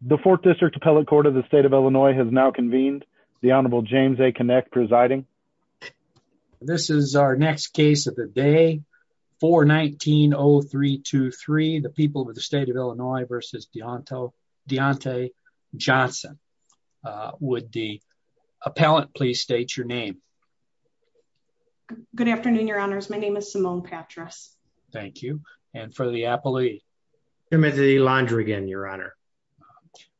The fourth district appellate court of the state of Illinois has now convened the honorable James, a connect presiding. This is our next case of the day for 19 Oh three, two, three, the people of the state of Illinois versus Dionto Deontay Johnson, uh, would the appellate please state your name? Good afternoon, your honors. My name is Simone Patras. Thank you. And for the appellee, Timothy Londrigan, your honor.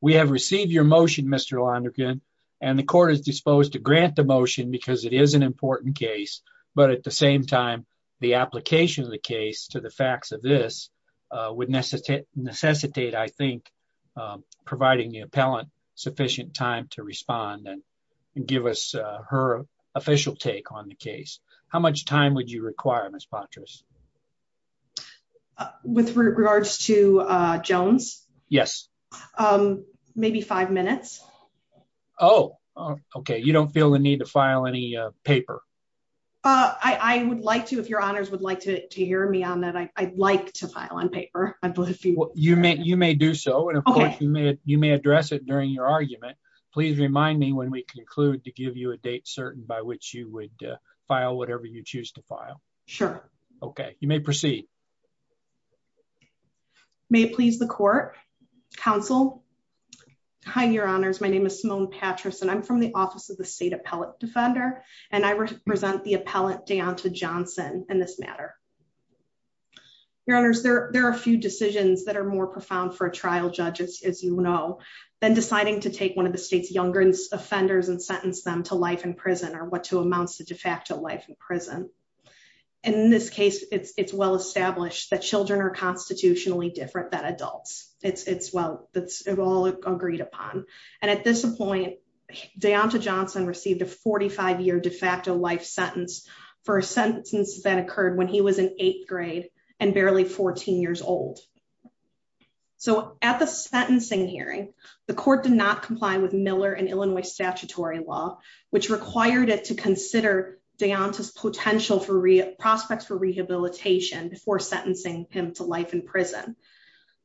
We have received your motion, Mr. Londrigan and the court is disposed to grant the motion because it is an important case, but at the same time, the application of the case to the facts of this, uh, would necessitate necessitate, I think, um, providing the appellant sufficient time to respond and give us, uh, her official take on the case. How much time would you require Ms. To, uh, Jones? Yes. Um, maybe five minutes. Oh, okay. You don't feel the need to file any paper. Uh, I would like to, if your honors would like to hear me on that, I I'd like to file on paper. You may, you may do so. And of course you may, you may address it during your argument. Please remind me when we conclude to give you a date certain by which you would file whatever you choose to file. Sure. Okay. You may proceed. May it please the court council. Hi, your honors. My name is Simone Patrice and I'm from the office of the state appellate defender, and I represent the appellant down to Johnson and this matter. Your honors there. There are a few decisions that are more profound for a trial judges, as you know, then deciding to take one of the state's younger offenders and sentence them to life in prison or what to amounts to de facto life in prison. And in this case, it's, it's well established that children are constitutionally different than adults. It's it's well, that's it all agreed upon. And at this point, Deonta Johnson received a 45 year de facto life sentence for a sentence that occurred when he was in eighth grade and barely 14 years old. So at the sentencing hearing, the court did not comply with Miller and Illinois statutory law, which required it to consider Deonta's prospects for rehabilitation before sentencing him to life in prison.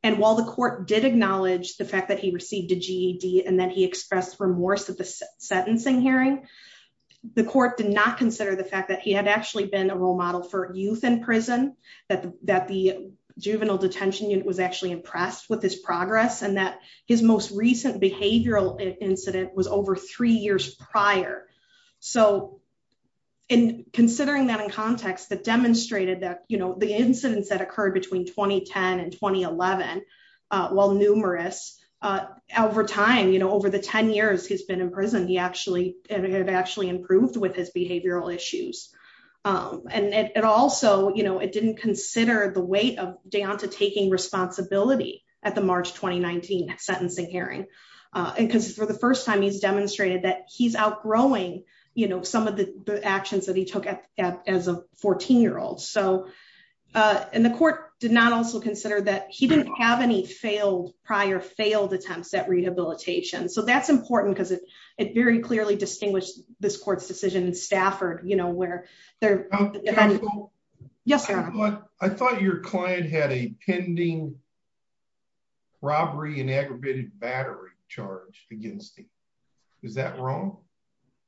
And while the court did acknowledge the fact that he received a GED and then he expressed remorse at the sentencing hearing, the court did not consider the fact that he had actually been a role model for youth in prison, that, that the juvenile detention unit was actually impressed with his progress and that his most recent behavioral incident was over three years prior. So in considering that in context that demonstrated that, you know, the incidents that occurred between 2010 and 2011 while numerous over time, you know, over the 10 years, he's been in prison, he actually had actually improved with his behavioral issues. And it also, you know, it didn't consider the weight of Deonta taking responsibility at the March, 2019 sentencing hearing because for the you know, some of the actions that he took as a 14 year old. So and the court did not also consider that he didn't have any failed prior failed attempts at rehabilitation. So that's important because it, it very clearly distinguished this court's decision in Stafford, you know, where they're, yes, sir. I thought your client had a pending. Robbery and aggravated battery charge against him. Is that wrong?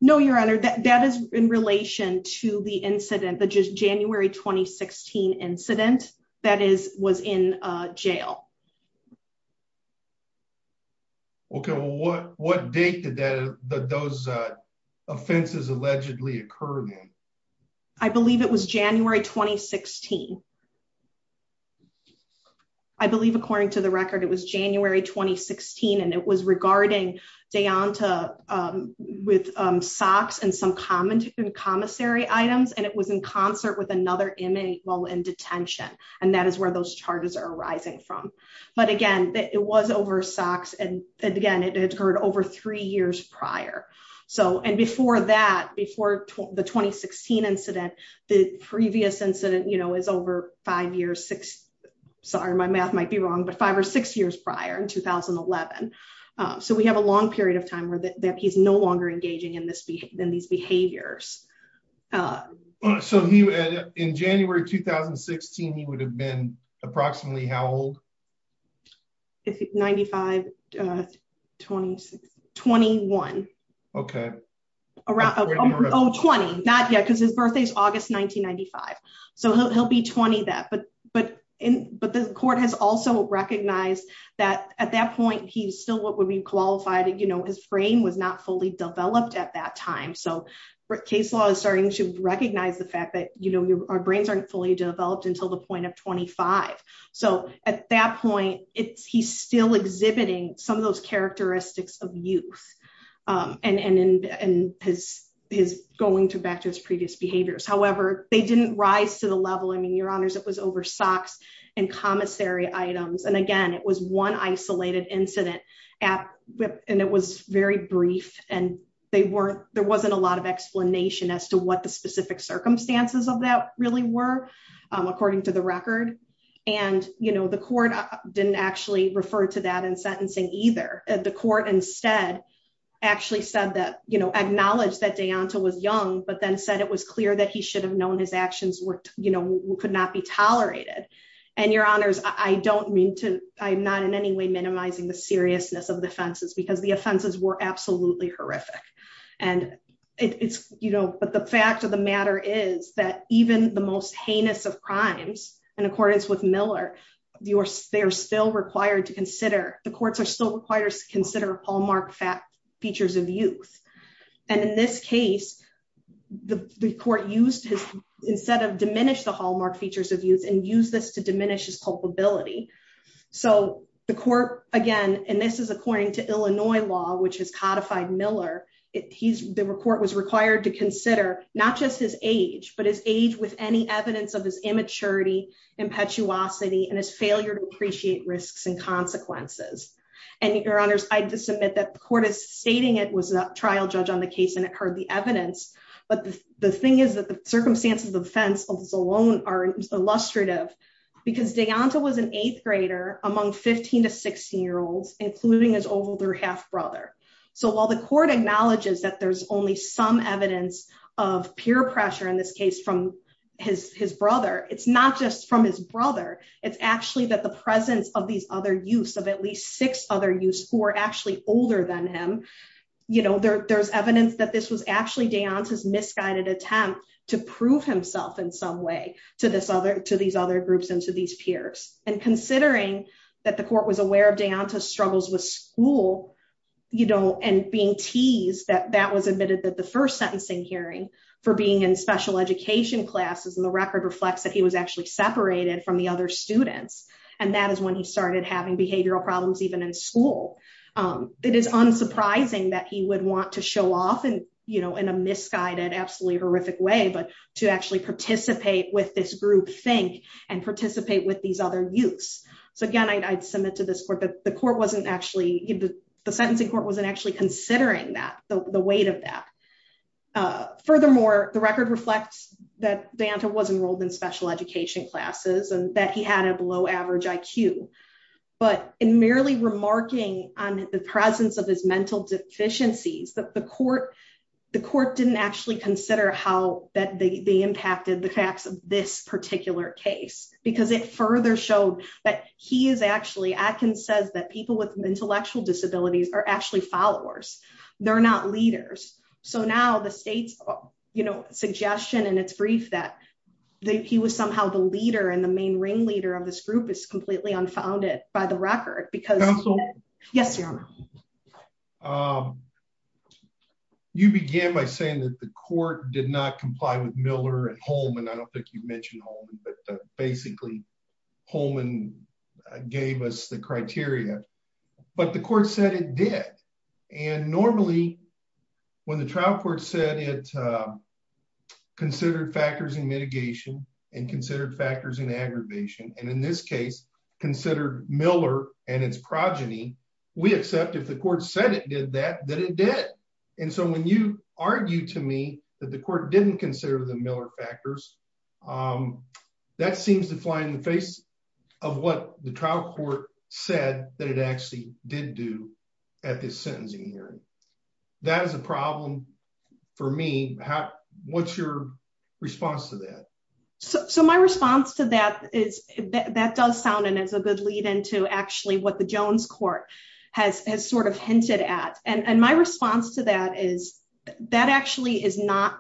No, your honor, that, that is in relation to the incident, the just January, 2016 incident that is, was in a jail. Okay. Well, what, what date did that, that those, uh, offenses allegedly occurred? I believe it was January, 2016. I believe, according to the record, it was January, 2016. And it was regarding Deonta, um, with, um, socks and some common commissary items. And it was in concert with another image while in detention. And that is where those charges are arising from. But again, it was over socks. And again, it occurred over three years prior. So, and before that, before the 2016 incident, the previous incident, you know, is over five years, six, sorry, my math might be wrong, but so we have a long period of time where that he's no longer engaging in this than these behaviors. Uh, so he, in January, 2016, he would have been approximately how old is it? 95, uh, 20, 21. Okay. Around 20, not yet. Cause his birthday's August, 1995. So he'll, he'll be 20 that, but, but in, but the court has also recognized that at that point, he's still, what would be qualified? And, you know, his brain was not fully developed at that time. So case law is starting to recognize the fact that, you know, your, our brains aren't fully developed until the point of 25. So at that point, it's, he's still exhibiting some of those characteristics of youth, um, and, and, and his, his going to back to his previous behaviors. However, they didn't rise to the level. I mean, your honors, it was over socks and commissary items. And again, it was one isolated incident app, and it was very brief and they weren't, there wasn't a lot of explanation as to what the specific circumstances of that really were. Um, according to the record and, you know, the court didn't actually refer to that in sentencing either. Uh, the court instead actually said that, you know, acknowledged that Dayanta was young, but then said it was clear that he should have known his actions were, you know, could not be tolerated and your honors. I don't mean to, I'm not in any way minimizing the seriousness of the offenses because the offenses were absolutely horrific and it's, you know, but the fact of the matter is that even the most heinous of crimes in accordance with Miller, you are, they're still required to consider the courts are still required to consider Hallmark fat features of youth. And in this case, the court used his, instead of diminish the Hallmark features of youth and use this to diminish his culpability. So the court again, and this is according to Illinois law, which has codified Miller. It he's the report was required to consider not just his age, but his age with any evidence of his immaturity, impetuosity, and his failure to appreciate risks and consequences. And your honors, I just submit that the court is stating. It was a trial judge on the case and it heard the evidence, but the thing is that the circumstances of the fence alone are illustrative because Dayanta was an eighth grader among 15 to 16 year olds, including his older half brother. So while the court acknowledges that there's only some evidence of peer pressure in this case from his, his brother, it's not just from his brother. It's actually that the presence of these other use of at least six other use who are actually older than him. You know, there there's evidence that this was actually Dayanta's misguided attempt to prove himself in some way to this other, to these other groups and to these peers, and considering that the court was aware of Dayanta struggles with school. You don't, and being teased that that was admitted that the first sentencing hearing for being in special education classes and the students, and that is when he started having behavioral problems, even in school. It is unsurprising that he would want to show off and, you know, in a misguided, absolutely horrific way, but to actually participate with this group think and participate with these other youths. So again, I'd, I'd submit to this court, but the court wasn't actually, the sentencing court wasn't actually considering that the weight of that. Furthermore, the record reflects that Dayanta was enrolled in special education classes and that he had a below average IQ, but in merely remarking on the presence of his mental deficiencies, the court, the court didn't actually consider how that they impacted the facts of this particular case, because it further showed that he is actually, Atkins says that people with intellectual disabilities are actually followers, they're not leaders. So now the state's, you know, suggestion and it's brief that the, he was somehow the leader and the main ring leader of this group is completely unfounded by the record because yes, your honor. Um, you began by saying that the court did not comply with Miller and Holman. I don't think you've mentioned all of them, but basically Holman gave us the criteria, but the court said it did. And normally when the trial court said it, uh, considered factors in mitigation and considered factors in aggravation, and in this case considered Miller and its progeny, we accept if the court said it did that, that it did, and so when you argue to me that the court didn't consider the Miller factors, um, that seems to fly in the face of what the trial court said that it actually did do at this sentencing hearing. That is a problem for me. How, what's your response to that? So, so my response to that is that does sound, and it's a good lead into actually what the Jones court has, has sort of hinted at. And my response to that is that actually is not,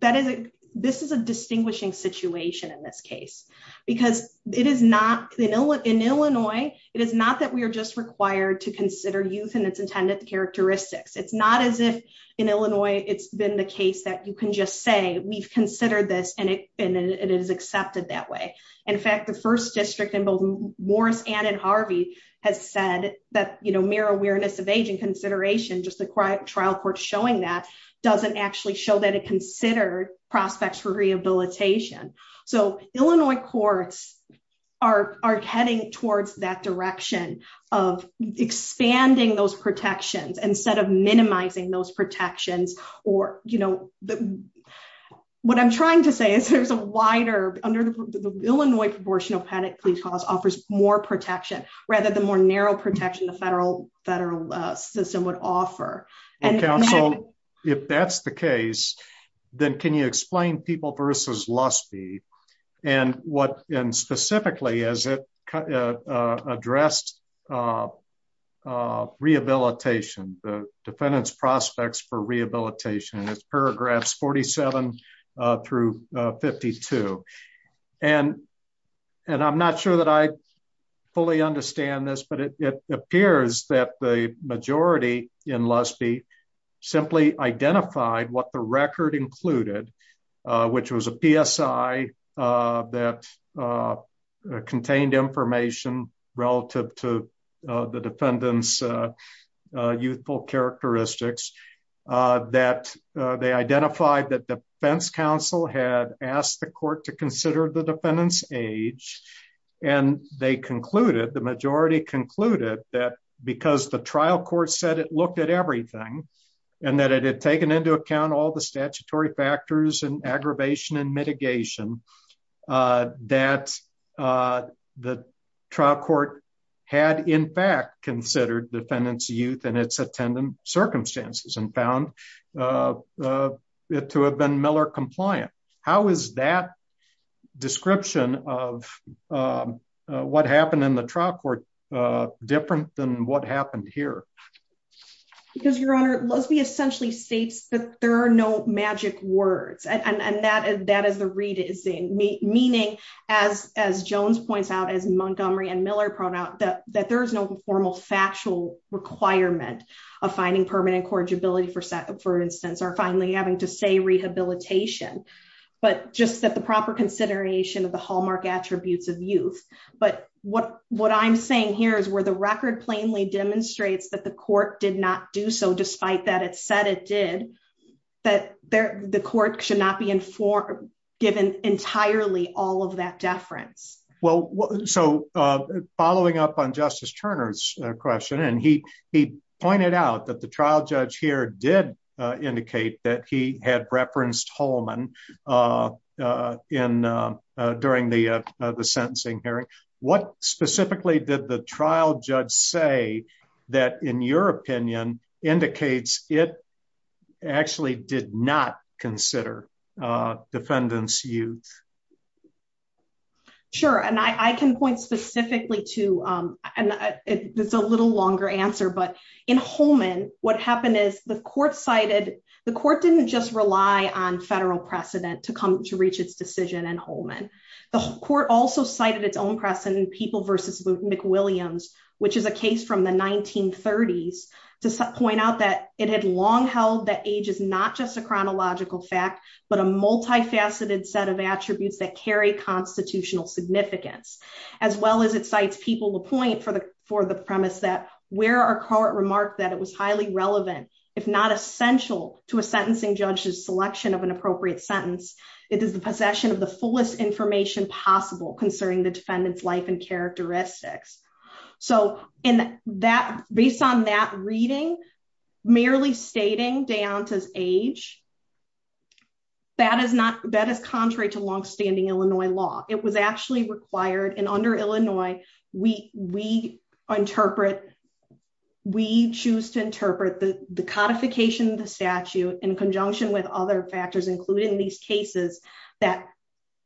that is, this is a distinguishing situation in this case, because it is not in Illinois, in Illinois, it is not that we are just required to consider youth and its intended characteristics. It's not as if in Illinois, it's been the case that you can just say, we've considered this and it, and it is accepted that way. In fact, the first district in both Morris and in Harvey has said that, you know, mirror awareness of aging consideration, just the trial court showing that doesn't actually show that it considered prospects for rehabilitation. So Illinois courts are, are heading towards that direction of expanding those protections instead of minimizing those protections or, you know, what I'm trying to say is there's a wider under the Illinois proportional panic police calls offers more protection rather than more narrow protection. The federal federal system would offer. And counsel, if that's the case, then can you explain people versus loss fee and what, and specifically as it, uh, uh, addressed, uh, uh, rehabilitation, the defendant's prospects for rehabilitation and it's paragraphs 47, uh, through, uh, 52. And, and I'm not sure that I fully understand this, but it appears that the majority in less be simply identified what the record included, uh, which was a PSI, uh, that, uh, uh, contained information relative to, uh, the defendant's, uh, uh, youthful characteristics, uh, that, uh, they identified that the fence council had asked the court to consider the defendant's age and they concluded the majority concluded that because the trial court said it looked at everything and that it had taken into account all the statutory factors and aggravation and mitigation. Uh, that, uh, the trial court had in fact, considered the defendant's youth and its attendant circumstances and found, uh, uh, to have been Miller compliant, how is that description of, um, uh, what happened in the trial court, uh, different than what happened here? Because your honor, let's be essentially states that there are no magic words. And that, that is the read is the meaning as, as Jones points out as Montgomery and Miller pronoun that, that there is no formal factual requirement of finding permanent corrigibility for second, for instance, or finally having to say rehabilitation, but just that the proper consideration of the Hallmark attributes of youth, but what, what I'm saying here is where the record plainly demonstrates that the court did not do. So despite that, it said it did that there, the court should not be informed given entirely all of that deference. Well, so, uh, following up on justice Turner's question, and he, he pointed out that the trial judge here did, uh, indicate that he had referenced uh, uh, in, uh, uh, during the, uh, the sentencing hearing, what specifically did the trial judge say that in your opinion indicates it actually did not consider, uh, defendants. Sure. And I, I can point specifically to, um, and it's a little longer answer, but in Holman, what happened is the court cited the court didn't just rely on federal precedent to come to reach its decision and Holman. The court also cited its own precedent people versus McWilliams, which is a case from the 1930s to point out that it had long held that age is not just a chronological fact, but a multifaceted set of attributes that carry constitutional significance, as well as it cites people to point for the, for the premise that where our court remarked that it was highly if not essential to a sentencing judge's selection of an appropriate sentence, it is the possession of the fullest information possible concerning the defendant's life and characteristics. So in that, based on that reading, merely stating down to his age, that is not, that is contrary to longstanding Illinois law. It was actually required in under Illinois. We, we interpret, we choose to interpret the codification of the statute in conjunction with other factors, including these cases that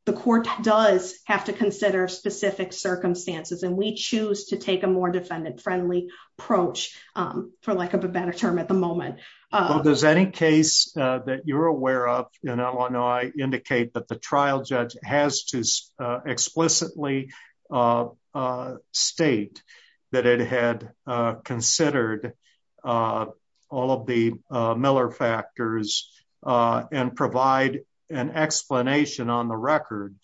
the court does have to consider specific circumstances. And we choose to take a more defendant friendly approach, um, for lack of a better term at the moment. Uh, does any case that you're aware of in Illinois indicate that the trial judge has to, uh, explicitly, uh, uh, state that it had, uh, considered, uh, all of the, uh, Miller factors, uh, and provide an explanation on the record,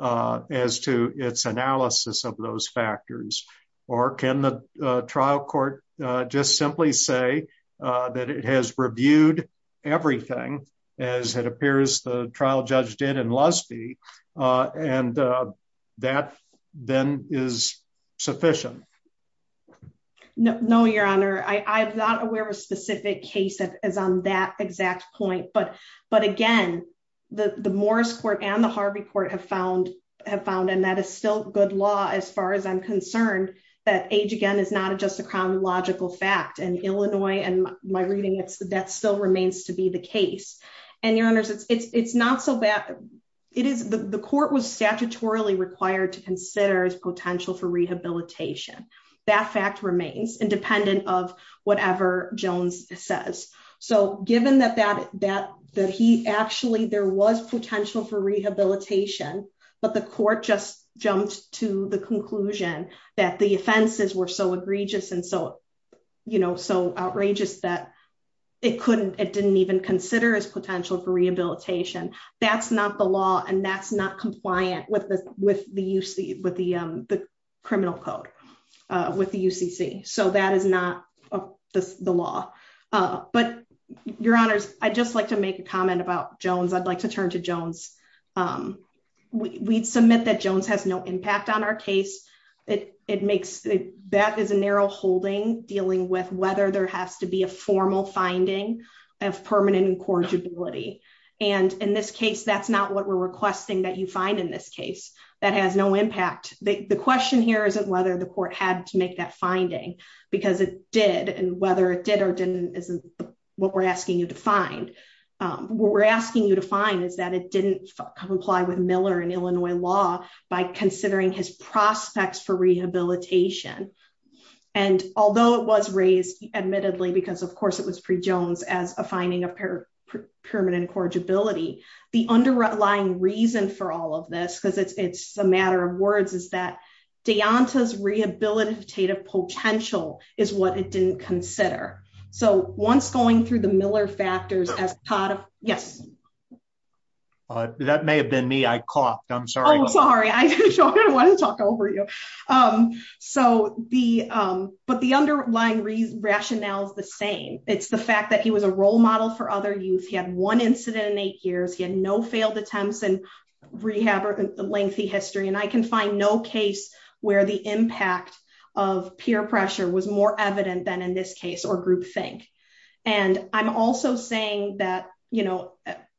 uh, as to its analysis of those factors, or can the trial court, uh, just simply say, uh, that it has reviewed everything as it appears the trial judge did in Lusby. Uh, and, uh, that then is sufficient. No, no, your honor. I I'm not aware of a specific case that is on that exact point, but, but again, the, the Morris court and the Harvey court have found have found, and that is still good law, as far as I'm concerned, that age again, is not just a chronological fact and Illinois. And my reading, it's the death still remains to be the case and your it's not so bad it is the court was statutorily required to consider as potential for rehabilitation. That fact remains independent of whatever Jones says. So given that, that, that, that he actually, there was potential for rehabilitation, but the court just jumped to the conclusion that the offenses were so egregious. And so, you know, so outrageous that it couldn't, it didn't even consider as potential for rehabilitation. That's not the law. And that's not compliant with the, with the UC, with the, um, the criminal code, uh, with the UCC. So that is not the law. Uh, but your honors, I just like to make a comment about Jones. I'd like to turn to Jones. Um, we we'd submit that Jones has no impact on our case. It, it makes that is a narrow holding dealing with whether there has to be a incorrigibility and in this case, that's not what we're requesting that you find in this case. That has no impact. The question here isn't whether the court had to make that finding because it did. And whether it did or didn't, isn't what we're asking you to find. Um, we're asking you to find is that it didn't comply with Miller and Illinois law by considering his prospects for rehabilitation. And although it was raised admittedly, because of course it was pre Jones as a finding of permanent incorrigibility, the underlying reason for all of this, cause it's, it's a matter of words is that Deonta's rehabilitative potential is what it didn't consider. So once going through the Miller factors as part of, yes. Uh, that may have been me. I coughed. I'm sorry. I'm sorry. I don't want to talk over you. Um, so the, um, but the underlying reason rationale is the same. It's the fact that he was a role model for other youth. He had one incident in eight years. He had no failed attempts and rehab or the lengthy history. And I can find no case where the impact of peer pressure was more evident than in this case or group think. And I'm also saying that, you know,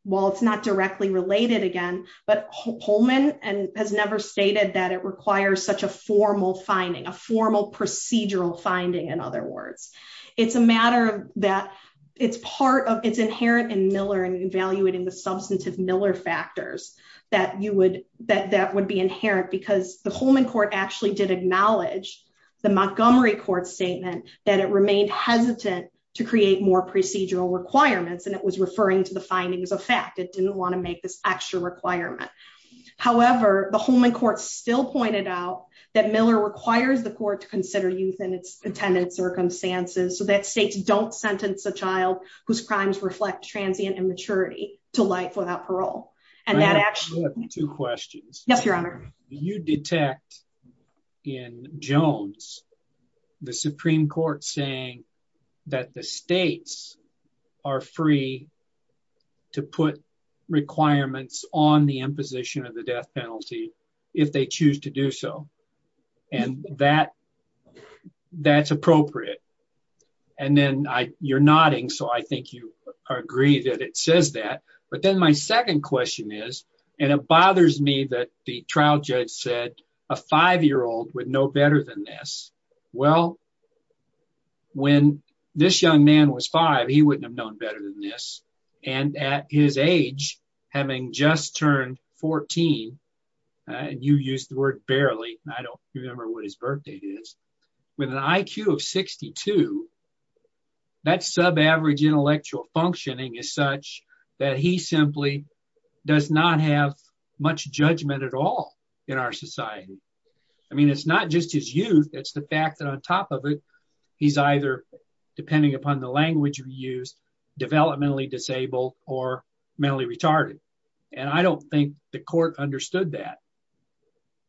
while it's not directly related again, but Holman and has never stated that it requires such a formal finding, a formal procedural finding, in other words. It's a matter of that. It's part of it's inherent in Miller and evaluating the substantive Miller factors that you would, that that would be inherent because the Holman court actually did acknowledge the Montgomery court statement that it remained hesitant to create more procedural requirements. And it was referring to the findings of fact, it didn't want to make this extra requirement. However, the Holman court still pointed out that Miller requires the court to so that states don't sentence a child whose crimes reflect transient immaturity to life without parole. And that actually two questions. You detect in Jones, the Supreme court saying that the states are free to put requirements on the imposition of the death penalty if they choose to do so. And that that's appropriate. And then I you're nodding. So I think you agree that it says that, but then my second question is, and it bothers me that the trial judge said a five-year-old would know better than this. Well, when this young man was five, he wouldn't have known better than this. And at his age, having just turned 14. And you use the word barely. I don't remember what his birthday is with an IQ of 62. That's sub-average intellectual functioning is such that he simply does not have much judgment at all in our society. I mean, it's not just his youth. It's the fact that on top of it, he's either depending upon the language of use developmentally disabled or mentally retarded. And I don't think the court understood that.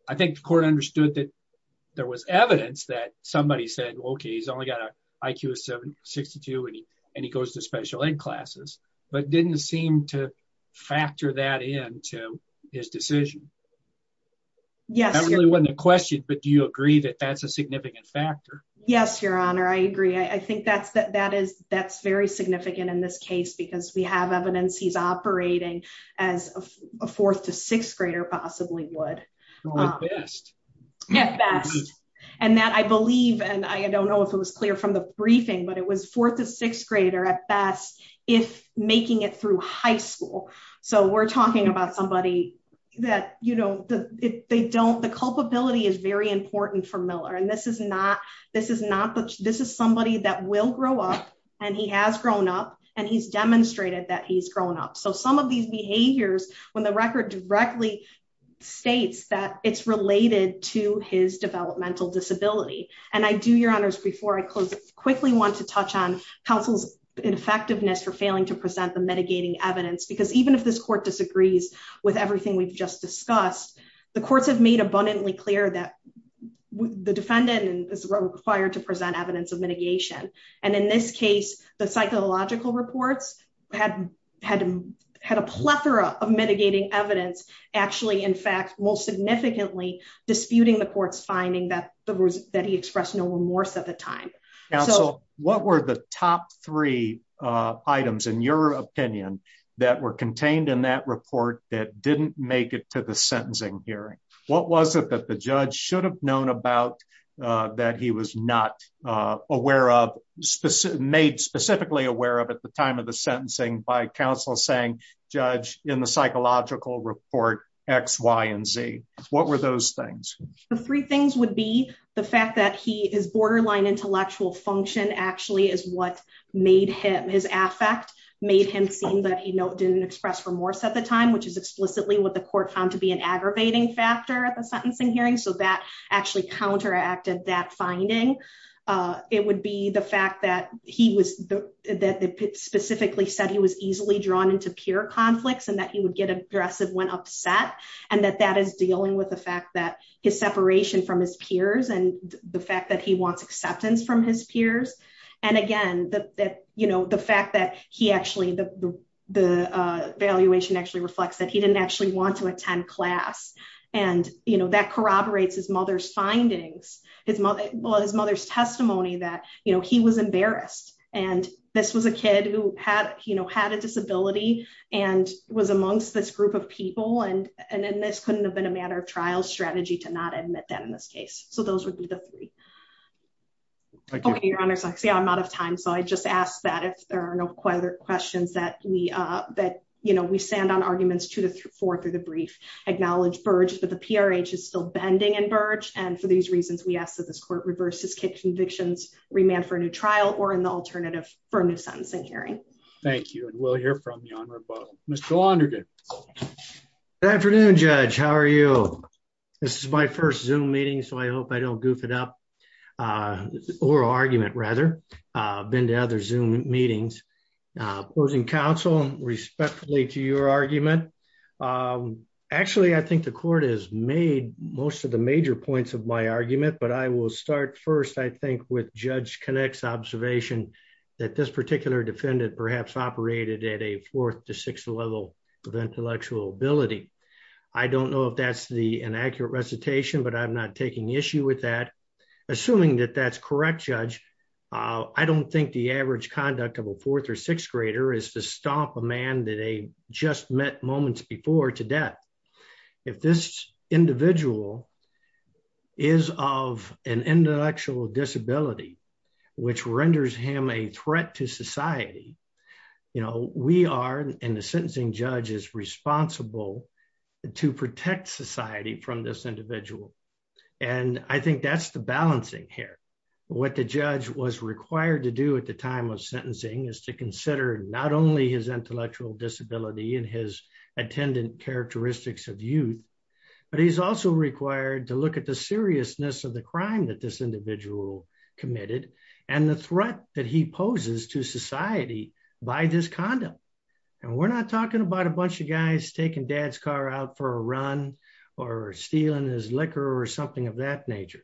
I think the court understood that there was evidence that somebody said, okay, he's only got a IQ of seven 62 and he, and he goes to special ed classes, but didn't seem to factor that in to his decision when the question, but do you agree that that's a significant factor? Yes, your honor. I agree. I think that's, that, that is, that's very significant in this case because we have evidence he's operating. As a fourth to sixth grader possibly would best and that I believe, and I don't know if it was clear from the briefing, but it was fourth to sixth grader at best if making it through high school. So we're talking about somebody that, you know, the, they don't, the culpability is very important for Miller. And this is not, this is not, this is somebody that will grow up and he has grown up and he's demonstrated that he's grown up. So some of these behaviors, when the record directly states that it's related to his developmental disability, and I do your honors before I close, quickly want to touch on counsel's effectiveness for failing to present the mitigating evidence, because even if this court disagrees with everything we've just discussed, the courts have made abundantly clear that the defendant is required to present evidence of mitigation. And in this case, the psychological reports had, had, had a plethora of mitigating evidence, actually, in fact, most significantly disputing the court's finding that the, that he expressed no remorse at the time. What were the top three items in your opinion that were contained in that report that didn't make it to the sentencing hearing, what was it that the judge should have known about that he was not aware of, made specifically aware of at the time of the sentencing by counsel saying judge in the psychological report X, Y, and Z. What were those things? The three things would be the fact that he is borderline intellectual function actually is what made him, his affect made him seem that, you know, didn't express remorse at the time, which is explicitly what the court found to be an aggravating factor at the sentencing hearing. So that actually counteracted that finding. It would be the fact that he was, that the specifically said he was easily drawn into peer conflicts and that he would get aggressive when upset, and that that is dealing with the fact that his separation from his peers and the fact that he wants acceptance from his peers. And again, that, that, you know, the fact that he actually, the, the evaluation actually reflects that he didn't actually want to attend class and, you know, that corroborates his mother's findings, his mother, well, his mother's testimony that, you know, he was embarrassed. And this was a kid who had, you know, had a disability and was amongst this group of people. And, and, and this couldn't have been a matter of trial strategy to not admit that in this case. So those would be the three. Okay. Your honor, I'm out of time. So I just asked that if there are no questions that we that, you know, we stand on arguments two to four through the brief acknowledge Burge, but the PRH is still bending and Burge. And for these reasons, we ask that this court reverse his convictions, remand for a new trial or an alternative for a new sentencing hearing. Thank you. And we'll hear from your honor. Mr. Launderdale. Good afternoon, judge. How are you? This is my first zoom meeting. So I hope I don't goof it up. Uh, oral argument rather, uh, been to other zoom meetings, uh, opposing respectfully to your argument. Um, actually I think the court has made most of the major points of my argument, but I will start first, I think with judge connects observation that this particular defendant perhaps operated at a fourth to sixth level of intellectual ability, I don't know if that's the inaccurate recitation, but I'm not taking issue with that, assuming that that's correct judge. Uh, I don't think the average conduct of a fourth or sixth grader is to stomp a man that they just met moments before to death. If this individual is of an intellectual disability, which renders him a threat to society, you know, we are in the sentencing judge is responsible to protect society from this individual. And I think that's the balancing here. What the judge was required to do at the time of sentencing is to consider not only his intellectual disability and his attendant characteristics of youth, but he's also required to look at the seriousness of the crime that this individual committed and the threat that he poses to society by this condom. And we're not talking about a bunch of guys taking dad's car out for a run or stealing his liquor or something of that nature.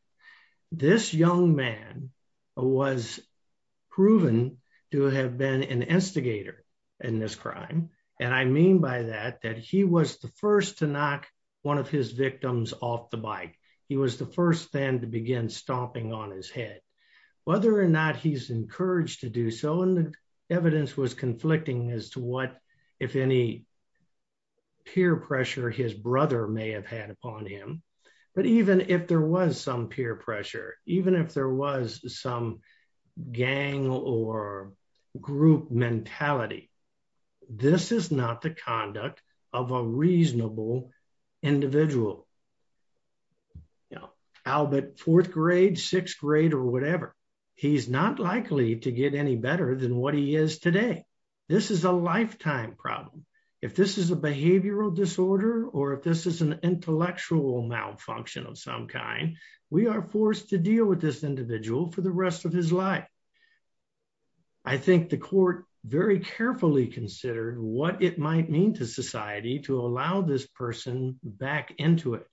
This young man was proven to have been an instigator in this crime. And I mean by that, that he was the first to knock one of his victims off the bike. He was the first then to begin stomping on his head, whether or not he's encouraged to do so in the evidence was conflicting as to what, if any peer pressure, his was some peer pressure, even if there was some gang or group mentality, this is not the conduct of a reasonable individual, you know, Albert fourth grade, sixth grade, or whatever. He's not likely to get any better than what he is today. This is a lifetime problem. If this is a behavioral disorder, or if this is an intellectual malfunction of some kind, we are forced to deal with this individual for the rest of his life. I think the court very carefully considered what it might mean to society to allow this person back into it.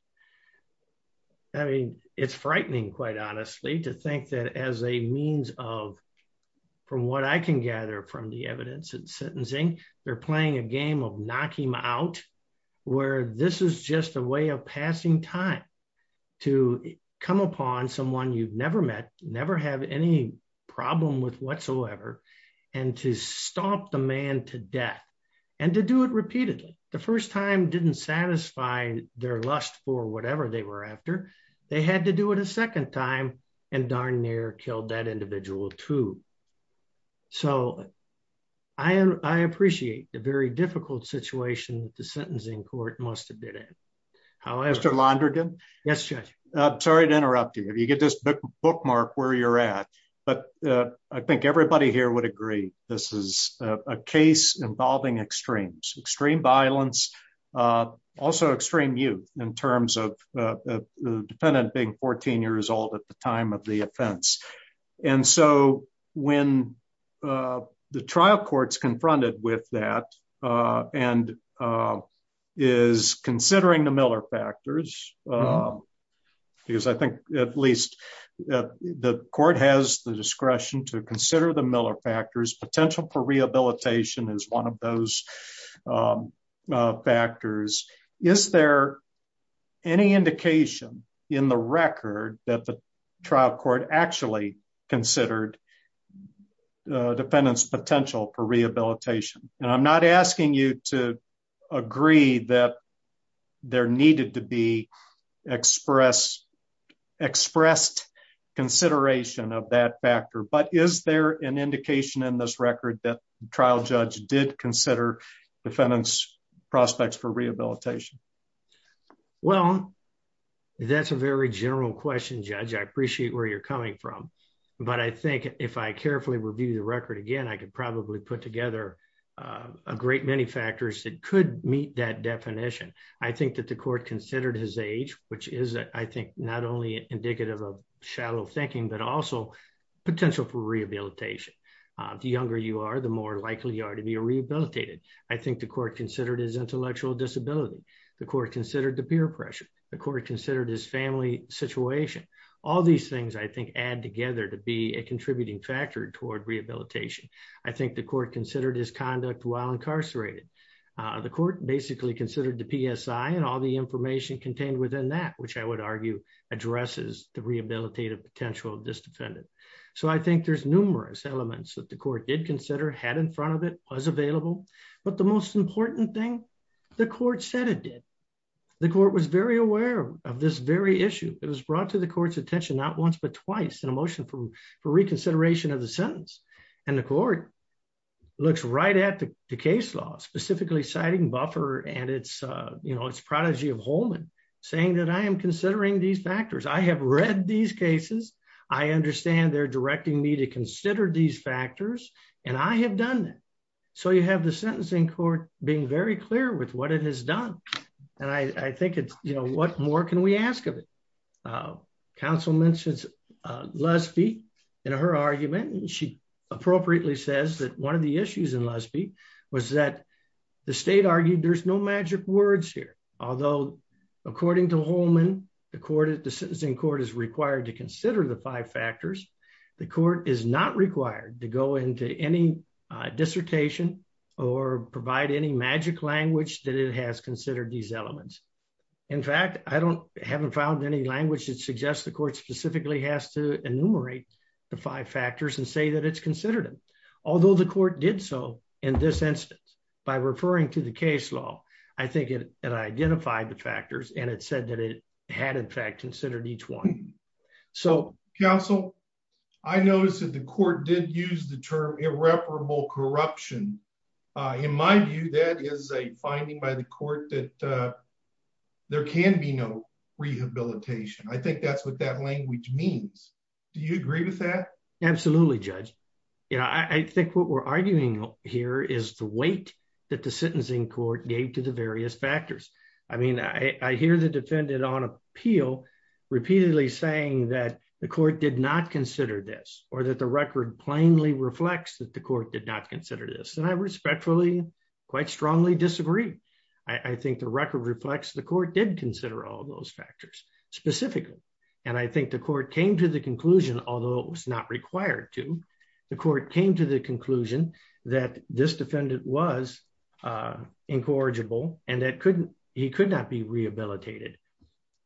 I mean, it's frightening, quite honestly, to think that as a means of, from what I can gather from the evidence and sentencing, they're playing a game of knock him out, where this is just a way of passing time to come upon someone you've never met, never have any problem with whatsoever, and to stop the man to death and to do it repeatedly. The first time didn't satisfy their lust for whatever they were after. They had to do it a second time and darn near killed that individual too. So I appreciate the very difficult situation that the sentencing court must've been in. However- Mr. Londrigan? Yes, Judge. I'm sorry to interrupt you. If you get this bookmarked where you're at, but I think everybody here would agree, this is a case involving extremes, extreme violence, also extreme youth in terms of the defendant being 14 years old at the time of the offense. And so when the trial court's confronted with that and is considering the Miller factors, because I think at least the court has the discretion to consider the Miller factors, potential for rehabilitation is one of those factors. Is there any indication in the record that the trial court actually considered a defendant's potential for rehabilitation? And I'm not asking you to agree that there needed to be expressed consideration of that factor, but is there an indication in this record that defendant's prospects for rehabilitation? Well, that's a very general question, Judge. I appreciate where you're coming from, but I think if I carefully review the record again, I could probably put together a great many factors that could meet that definition. I think that the court considered his age, which is, I think, not only indicative of shallow thinking, but also potential for rehabilitation. The younger you are, the more likely you are to be rehabilitated. I think the court considered his intellectual disability. The court considered the peer pressure. The court considered his family situation. All these things, I think, add together to be a contributing factor toward rehabilitation. I think the court considered his conduct while incarcerated. The court basically considered the PSI and all the information contained within that, which I would argue addresses the rehabilitative potential of this defendant. So I think there's numerous elements that the court did consider had in front of it was available. But the most important thing, the court said it did. The court was very aware of this very issue. It was brought to the court's attention, not once, but twice in a motion for reconsideration of the sentence. And the court looks right at the case law, specifically citing Buffer and its, you know, its prodigy of Holman saying that I am considering these factors. I have read these cases. I understand they're directing me to consider these factors and I have done it. So you have the sentencing court being very clear with what it has done. And I think it's, you know, what more can we ask of it? Uh, counsel mentions, uh, Lespie in her argument, and she appropriately says that one of the issues in Lespie was that the state argued there's no magic words here. Although according to Holman, the court, the sentencing court is required to consider the five factors. The court is not required to go into any, uh, dissertation or provide any magic language that it has considered these elements. In fact, I don't, haven't found any language that suggests the court specifically has to enumerate the five factors and say that it's considered them. Although the court did so in this instance, by referring to the case law, I think it, it identified the factors and it said that it had in fact considered each one. So counsel, I noticed that the court did use the term irreparable corruption. Uh, in my view, that is a finding by the court that, uh, there can be no rehabilitation. I think that's what that language means. Do you agree with that? Absolutely judge. Yeah. I think what we're arguing here is the weight that the sentencing court gave to the various factors. I mean, I, I hear the defendant on appeal repeatedly saying that the court did not consider this or that the record plainly reflects that the court did not consider this. And I respectfully, quite strongly disagree. I think the record reflects the court did consider all those factors specifically. And I think the court came to the conclusion, although it was not required to, the court came to the conclusion that this defendant was, uh, incorrigible. And that couldn't, he could not be rehabilitated.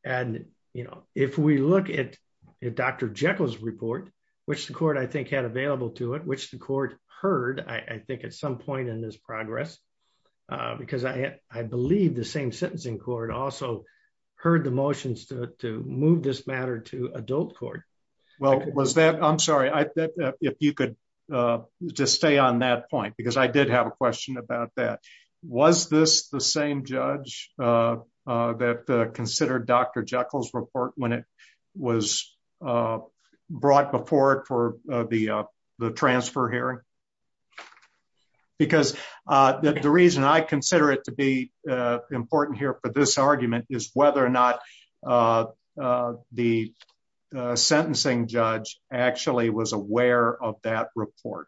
And, you know, if we look at Dr. Jekyll's report, which the court, I think had available to it, which the court heard, I think at some point in this progress, uh, because I, I believe the same sentencing court also heard the motions to, to move this matter to adult. Well, was that, I'm sorry. I, if you could, uh, just stay on that point, because I did have a question about that. Was this the same judge, uh, uh, that, uh, considered Dr. Jekyll's report when it was, uh, brought before it for the, uh, the transfer hearing, because, uh, that the reason I consider it to be, uh, important here for this argument is whether or not, uh, uh, the, uh, sentencing judge actually was aware of that report.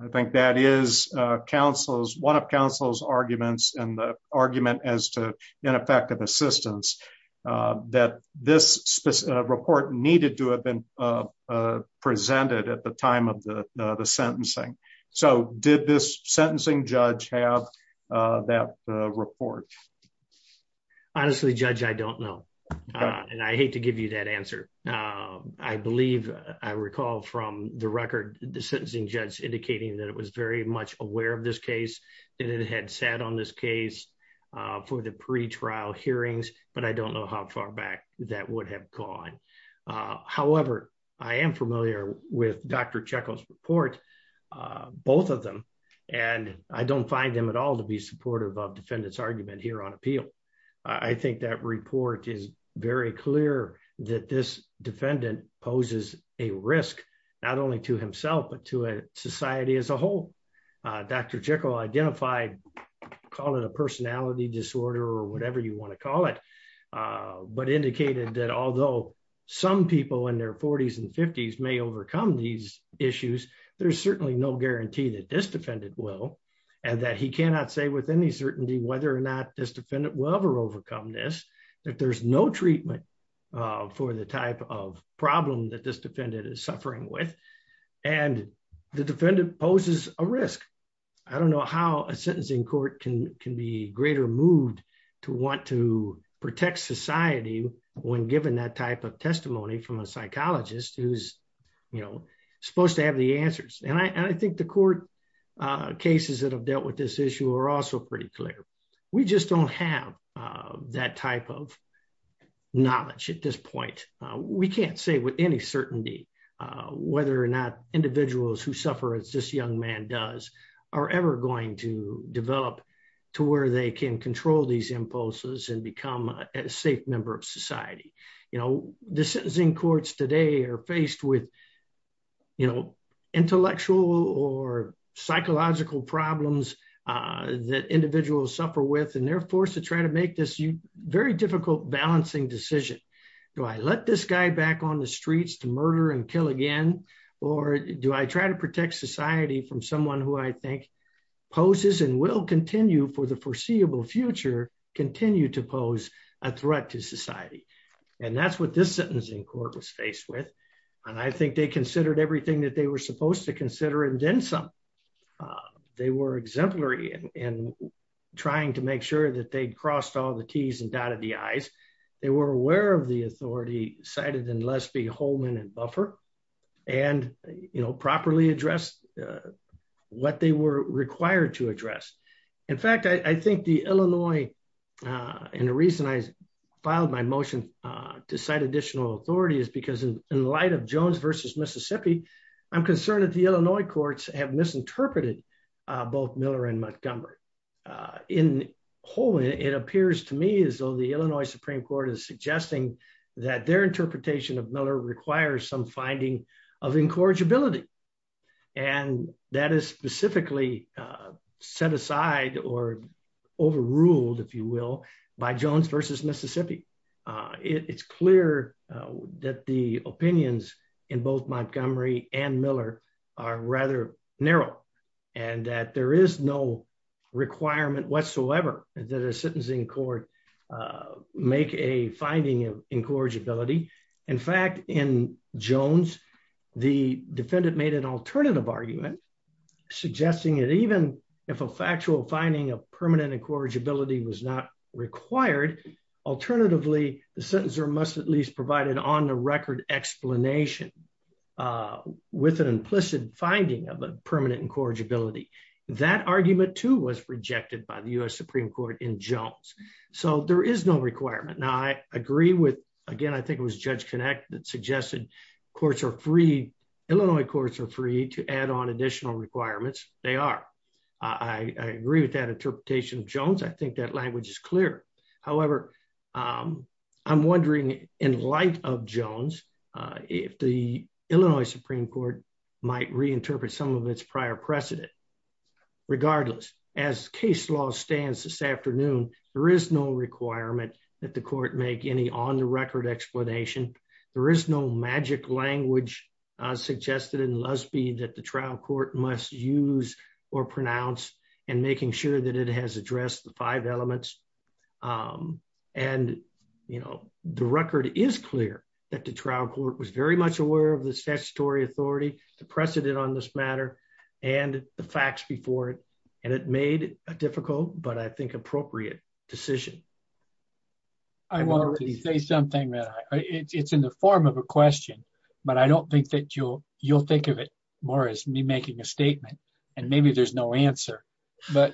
I think that is a counsel's one of counsel's arguments and the argument as to ineffective assistance, uh, that this specific report needed to have been, uh, uh, presented at the time of the, uh, the sentencing. So did this sentencing judge have, uh, that, uh, report? Honestly, judge, I don't know. Uh, and I hate to give you that answer. Um, I believe I recall from the record, the sentencing judge indicating that it was very much aware of this case and it had sat on this case, uh, for the pre-trial hearings, but I don't know how far back that would have gone. Uh, however, I am familiar with Dr. Jekyll's report, uh, both of them. And I don't find them at all to be supportive of defendants argument here on appeal. I think that report is very clear that this defendant poses a risk, not only to himself, but to a society as a whole. Uh, Dr. Jekyll identified, call it a personality disorder or whatever you want to call it. Uh, but indicated that although some people in their forties and fifties may overcome these issues, there's certainly no guarantee that this defendant will, and that he cannot say with any certainty whether or not this defendant will ever overcome this, that there's no treatment, uh, for the type of problem that this defendant is suffering with and the defendant poses a risk. I don't know how a sentencing court can, can be greater moved to want to protect society when given that type of testimony from a psychologist who's, you know, supposed to have the answers. And I, and I think the court, uh, cases that have dealt with this issue are also pretty clear. We just don't have, uh, that type of knowledge at this point. Uh, we can't say with any certainty, uh, whether or not individuals who suffer as this young man does are ever going to develop to where they can control these impulses and become a safe member of society, you know, the sentencing courts today are faced with, you know, intellectual or psychological problems, uh, that individuals suffer with. And they're forced to try to make this very difficult balancing decision. Do I let this guy back on the streets to murder and kill again? Or do I try to protect society from someone who I think poses and will continue for the foreseeable future, continue to pose a threat to society. And that's what this sentencing court was faced with. And I think they considered everything that they were supposed to consider and then some. Uh, they were exemplary in trying to make sure that they'd crossed all the T's and dotted the I's. They were aware of the authority cited in Lesbie, Holman and Buffer. And, you know, properly address, uh, what they were required to address. In fact, I think the Illinois, uh, and the reason I filed my motion, uh, to cite additional authority is because in light of Jones versus Mississippi, I'm misinterpreted, uh, both Miller and Montgomery, uh, in whole, it appears to me as though the Illinois Supreme court is suggesting that their interpretation of Miller requires some finding of incorrigibility. And that is specifically, uh, set aside or overruled, if you will, by Jones versus Mississippi. Uh, it it's clear that the opinions in both Montgomery and narrow and that there is no requirement whatsoever that a sentencing court, uh, make a finding of incorrigibility. In fact, in Jones, the defendant made an alternative argument suggesting that even if a factual finding of permanent incorrigibility was not required, alternatively, the sentencer must at least provide an on the record explanation, uh, with an implicit finding of a permanent incorrigibility. That argument too was rejected by the U S Supreme court in Jones. So there is no requirement. Now I agree with, again, I think it was judge connect that suggested courts are free, Illinois courts are free to add on additional requirements. They are. I agree with that interpretation of Jones. I think that language is clear. However, um, I'm wondering in light of Jones, uh, if the Illinois Supreme court might reinterpret some of its prior precedent, regardless as case law stands this afternoon, there is no requirement that the court make any on the record explanation. There is no magic language, uh, suggested in Lusby that the trial court must use or pronounce and making sure that it has addressed the five elements, um, and you know, the record is clear that the trial court was very much aware of the statutory authority, the precedent on this matter and the facts before it, and it made a difficult, but I think appropriate decision. I want to say something that it's in the form of a question, but I don't think that you'll, you'll think of it more as me making a statement and maybe there's no answer. But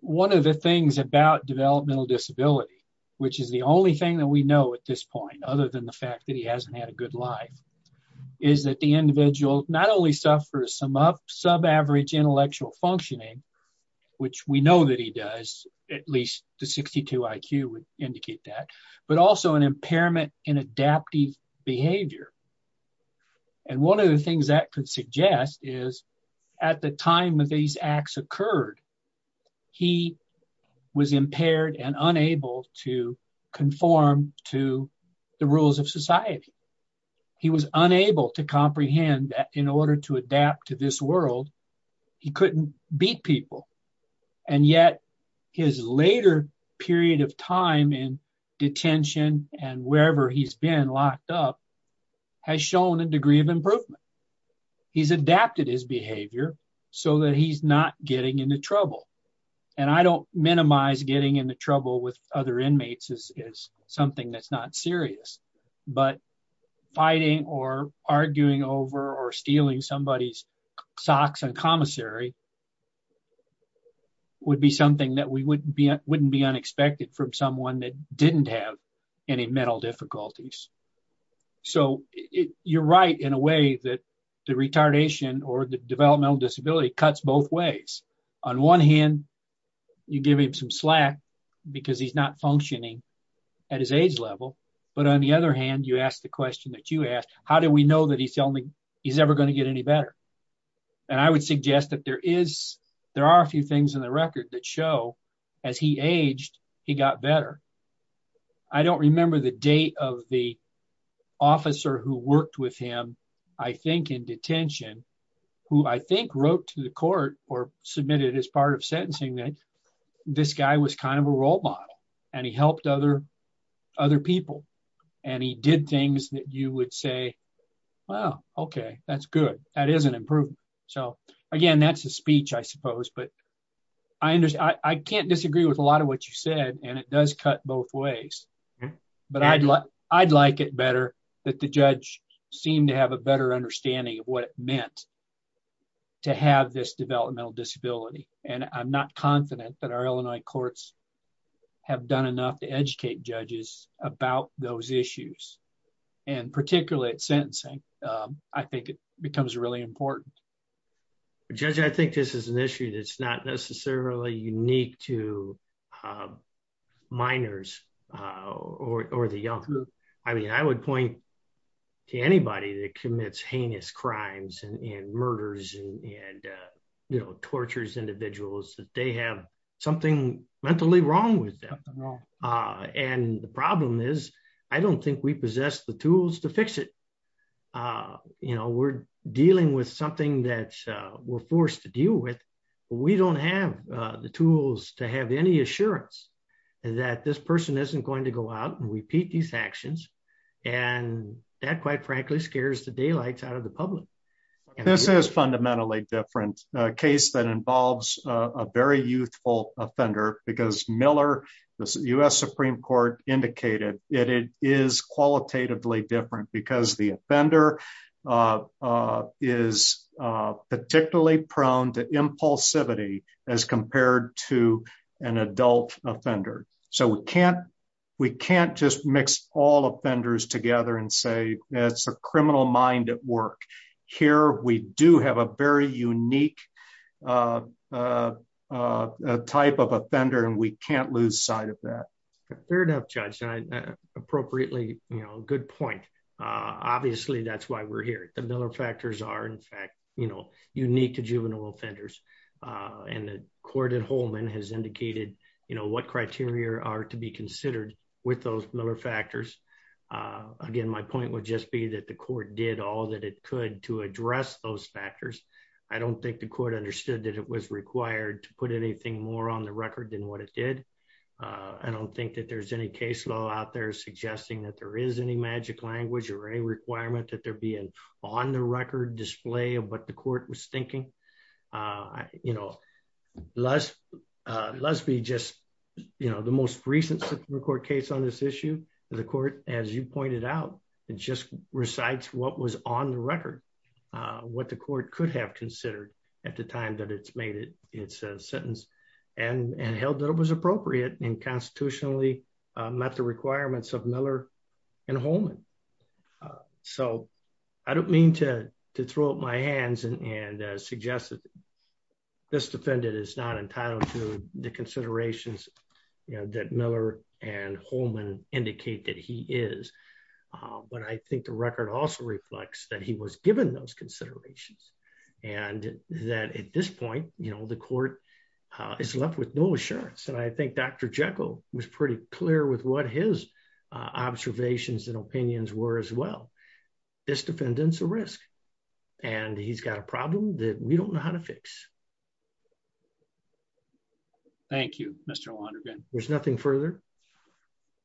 one of the things about developmental disability, which is the only thing that we know at this point, other than the fact that he hasn't had a good life is that the individual not only suffers some up sub average intellectual functioning, which we know that he does at least the 62 IQ would indicate that, but also an impairment in adaptive behavior. And one of the things that could suggest is at the time of these acts occurred, he was impaired and unable to conform to the rules of society. He was unable to comprehend that in order to adapt to this world, he couldn't beat people and yet his later period of time in detention and wherever he's been locked up has shown a degree of improvement. He's adapted his behavior so that he's not getting into trouble. And I don't minimize getting into trouble with other inmates is, is something that's not serious, but fighting or arguing over or stealing somebody's socks and commissary would be something that we wouldn't be, wouldn't be unexpected from someone that didn't have any mental difficulties. So you're right in a way that the retardation or the developmental disability cuts both ways. On one hand, you give him some slack because he's not functioning at his age level, but on the other hand, you asked the question that you asked, how do we know that he's telling me he's ever going to get any better? And I would suggest that there is, there are a few things in the record that show as he aged, he got better. I don't remember the date of the officer who worked with him, I think in detention, who I think wrote to the court or submitted as part of sentencing that this guy was kind of a role model and he helped other, other people. And he did things that you would say, wow, okay, that's good. That is an improvement. So again, that's a speech, I suppose, but I understand, I can't disagree with a lot of what you said and it does cut both ways, but I'd like, I'd like it better that the judge seemed to have a better understanding of what it meant to have this developmental disability. And I'm not confident that our Illinois courts have done enough to educate judges about those issues and particularly at sentencing, I think it becomes really important. Judge, I think this is an issue that's not necessarily unique to minors or, or the young group. I mean, I would point to anybody that commits heinous crimes and murders and, and you know, tortures individuals that they have something mentally wrong with them and the problem is I don't think we possess the tools to fix it. Uh, you know, we're dealing with something that, uh, we're forced to deal with, but we don't have, uh, the tools to have any assurance that this person isn't going to go out and repeat these actions and that quite frankly scares the daylights out of the public. This is fundamentally different, a case that involves a very youthful offender because Miller, the U.S. Supreme court indicated it is qualitatively different because the offender, uh, uh, is, uh, particularly prone to impulsivity as compared to an adult offender. So we can't, we can't just mix all offenders together and say, that's a criminal mind at work here. We do have a very unique, uh, uh, uh, uh, type of offender and we can't lose sight of that. Fair enough, judge. Appropriately, you know, good point. Uh, obviously that's why we're here. The Miller factors are in fact, you know, unique to juvenile offenders. Uh, and the court at Holman has indicated, you know, what criteria are to be considered with those Miller factors. Uh, again, my point would just be that the court did all that it could to address those factors. I don't think the court understood that it was required to put anything more on the record than what it did. Uh, I don't think that there's any case law out there suggesting that there is any magic language or a requirement that there'd be an on the record display of what the court was thinking. Uh, you know, let's, uh, let's be just, you know, the most recent court case on this issue, the court, as you pointed out, it just recites what was on the record, uh, what the court could have considered at the time that it's made it's a sentence and, and held that it was appropriate and constitutionally, uh, met the requirements of Miller and Holman. Uh, so I don't mean to throw up my hands and, and, uh, suggest that this defendant is not entitled to the considerations that Miller and Holman indicate that he is, uh, but I think the record also reflects that he was given those the court, uh, is left with no assurance. And I think Dr. Jekyll was pretty clear with what his, uh, observations and opinions were as well. This defendant's a risk and he's got a problem that we don't know how to fix. Thank you, Mr. Wondergren. There's nothing further.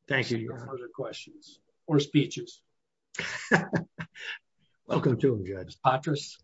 Thank you. Your further questions or speeches. Welcome to them. Judge Patras.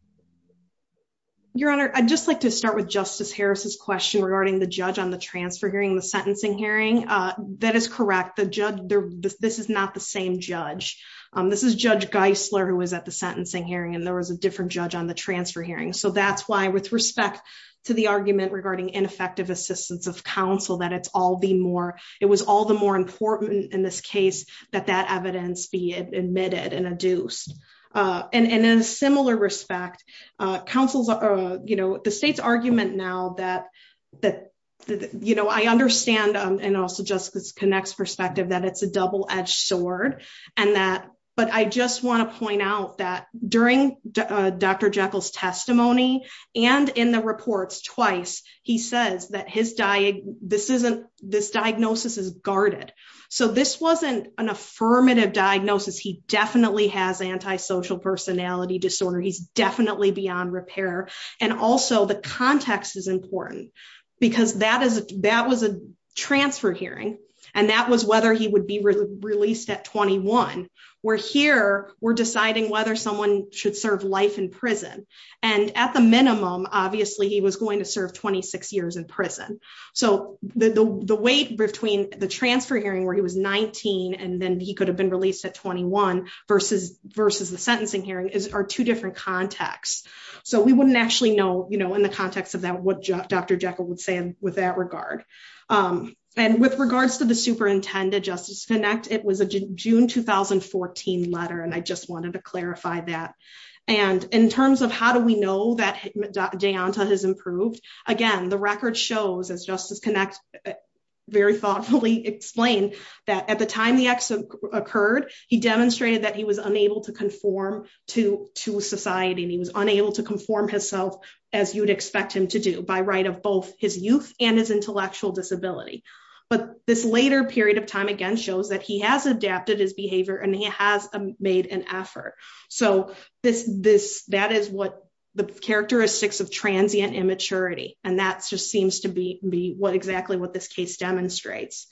Your honor. I'd just like to start with justice Harris's question regarding the judge on the transfer hearing, the sentencing hearing, uh, that is correct. The judge there, this is not the same judge. Um, this is judge Geisler who was at the sentencing hearing and there was a different judge on the transfer hearing. So that's why with respect to the argument regarding ineffective assistance of counsel, that it's all the more, it was all the more important in this case that that evidence be admitted and adduced, uh, and, and in a similar respect, uh, counsels, uh, you know, the state's argument now that, that, that, you know, I understand. Um, and also just because connects perspective that it's a double edged sword and that, but I just want to point out that during Dr. Jekyll's testimony and in the reports twice, he says that his diet, this isn't this diagnosis is guarded. So this wasn't an affirmative diagnosis. He definitely has antisocial personality disorder. He's definitely beyond repair. And also the context is important because that is, that was a transfer hearing and that was whether he would be released at 21 where here we're deciding whether someone should serve life in prison and at the minimum, obviously he was going to serve 26 years in prison. So the, the, the weight between the transfer hearing where he was 19 and then he could have been released at 21 versus, versus the sentencing hearing are two different contexts. So we wouldn't actually know, you know, in the context of that, what Dr. Jekyll would say with that regard. Um, and with regards to the superintendent justice connect, it was a June 2014 letter. And I just wanted to clarify that. And in terms of how do we know that Deonta has improved again, the record shows as justice connect, very thoughtfully explained that at the time the accident occurred, he demonstrated that he was unable to conform to, to society and he was unable to conform himself as you'd expect him to do by right of both his youth and his intellectual disability, but this later period of time, again, shows that he has adapted his behavior and he has made an effort. So this, this, that is what the characteristics of transient immaturity. And that's just seems to be, be what exactly what this case demonstrates.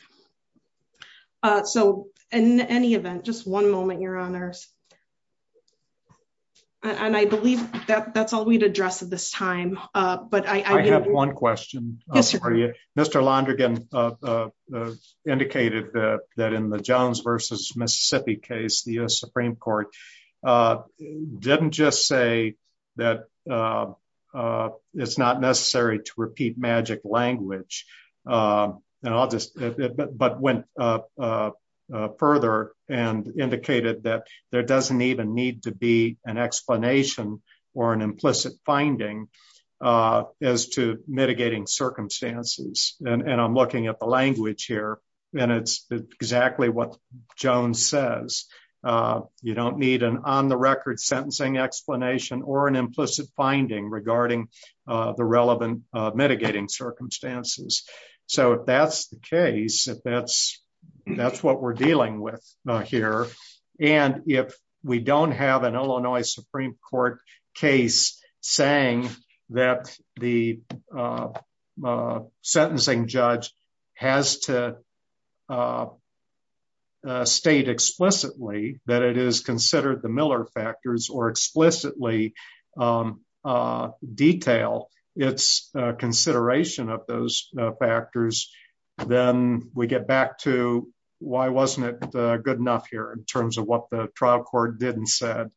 Uh, so in any event, just one moment, your honors. And I believe that that's all we'd address at this time. Uh, but I, I have one question for you, Mr. Londrigan, uh, uh, uh, indicated that, that in the Jones versus Mississippi case, the U S Supreme court, uh, didn't just say that, uh, uh, it's not necessary to repeat magic language. Um, and I'll just, but, but when, uh, uh, uh, further and indicated that there doesn't even need to be an explanation or an implicit finding, uh, as to mitigating circumstances. And I'm looking at the language here and it's exactly what Jones says. Uh, you don't need an on the record sentencing explanation or an implicit finding regarding, uh, the relevant, uh, mitigating circumstances. So if that's the case, if that's, that's what we're dealing with here. And if we don't have an Illinois Supreme court case saying that the, uh, uh, sentencing judge has to, uh, uh, state explicitly that it is considered the a detail it's a consideration of those factors. Then we get back to why wasn't it good enough here in terms of what the trial court didn't said.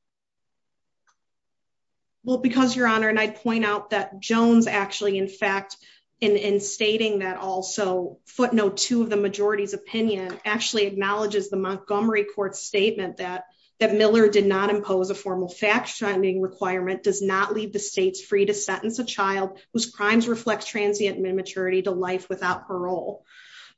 Well, because your honor, and I'd point out that Jones actually, in fact, in, in stating that also footnote two of the majority's opinion actually acknowledges the Montgomery court statement that, that Miller did not impose a formal fact requirement does not leave the States free to sentence a child whose crimes reflect transient and immaturity to life without parole.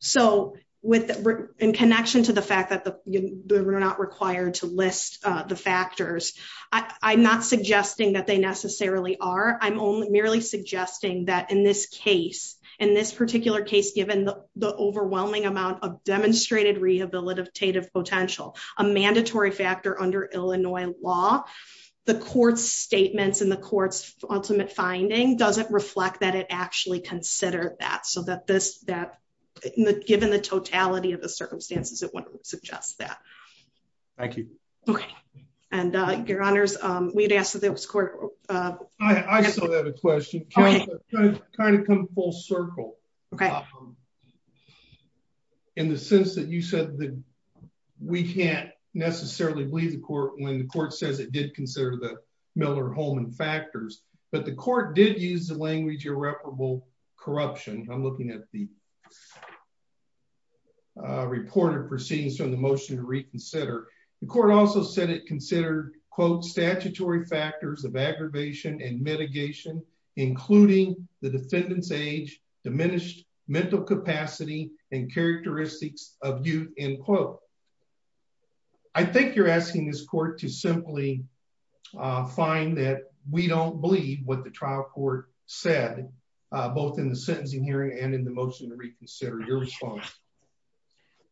So with in connection to the fact that the, we're not required to list the factors, I I'm not suggesting that they necessarily are, I'm only merely suggesting that in this case, in this particular case, given the overwhelming amount of demonstrated rehabilitative potential, a mandatory factor under Illinois law, the court's statements and the court's ultimate finding doesn't reflect that it actually considered that. So that this, that given the totality of the circumstances, it wouldn't suggest that. Thank you. Okay. And, uh, your honors, um, we'd asked that there was court, uh, I saw that a question kind of come full circle in the sense that you said that we can't necessarily leave the court when the court says it did consider the Miller-Holman factors, but the court did use the language irreparable corruption. I'm looking at the, uh, reported proceedings from the motion to reconsider. The court also said it considered quote, statutory factors of aggravation and mitigation, including the defendant's age, diminished mental capacity and characteristics of youth end quote. I think you're asking this court to simply, uh, find that we don't believe what the trial court said, uh, both in the sentencing hearing and in the motion to reconsider your response.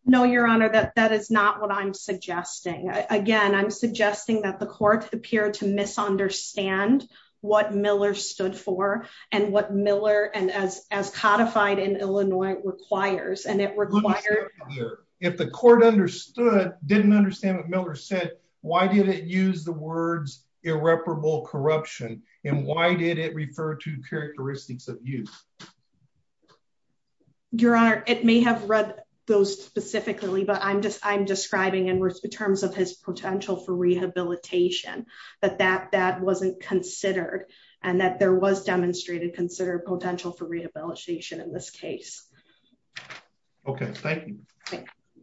No, your honor, that, that is not what I'm suggesting. I, again, I'm suggesting that the court appeared to misunderstand what Miller stood for and what Miller and as, as codified in Illinois requires. And it required, if the court understood, didn't understand what Miller said, why did it use the words irreparable corruption and why did it refer to characteristics of youth? Your honor, it may have read those specifically, but I'm just, I'm describing in terms of his potential for rehabilitation, but that, that wasn't considered and that there was demonstrated consider potential for rehabilitation in this case. Okay.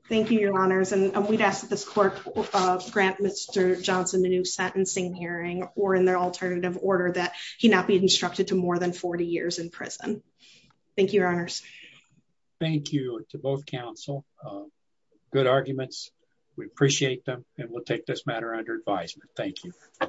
Thank you, your honors. And we'd ask that this court, uh, grant Mr. Johnson, a new sentencing hearing, or in their alternative order that he not be instructed to more than 40 years in prison. Thank you, your honors. Thank you to both counsel. Um, good arguments. We appreciate them and we'll take this matter under advisement. Thank you.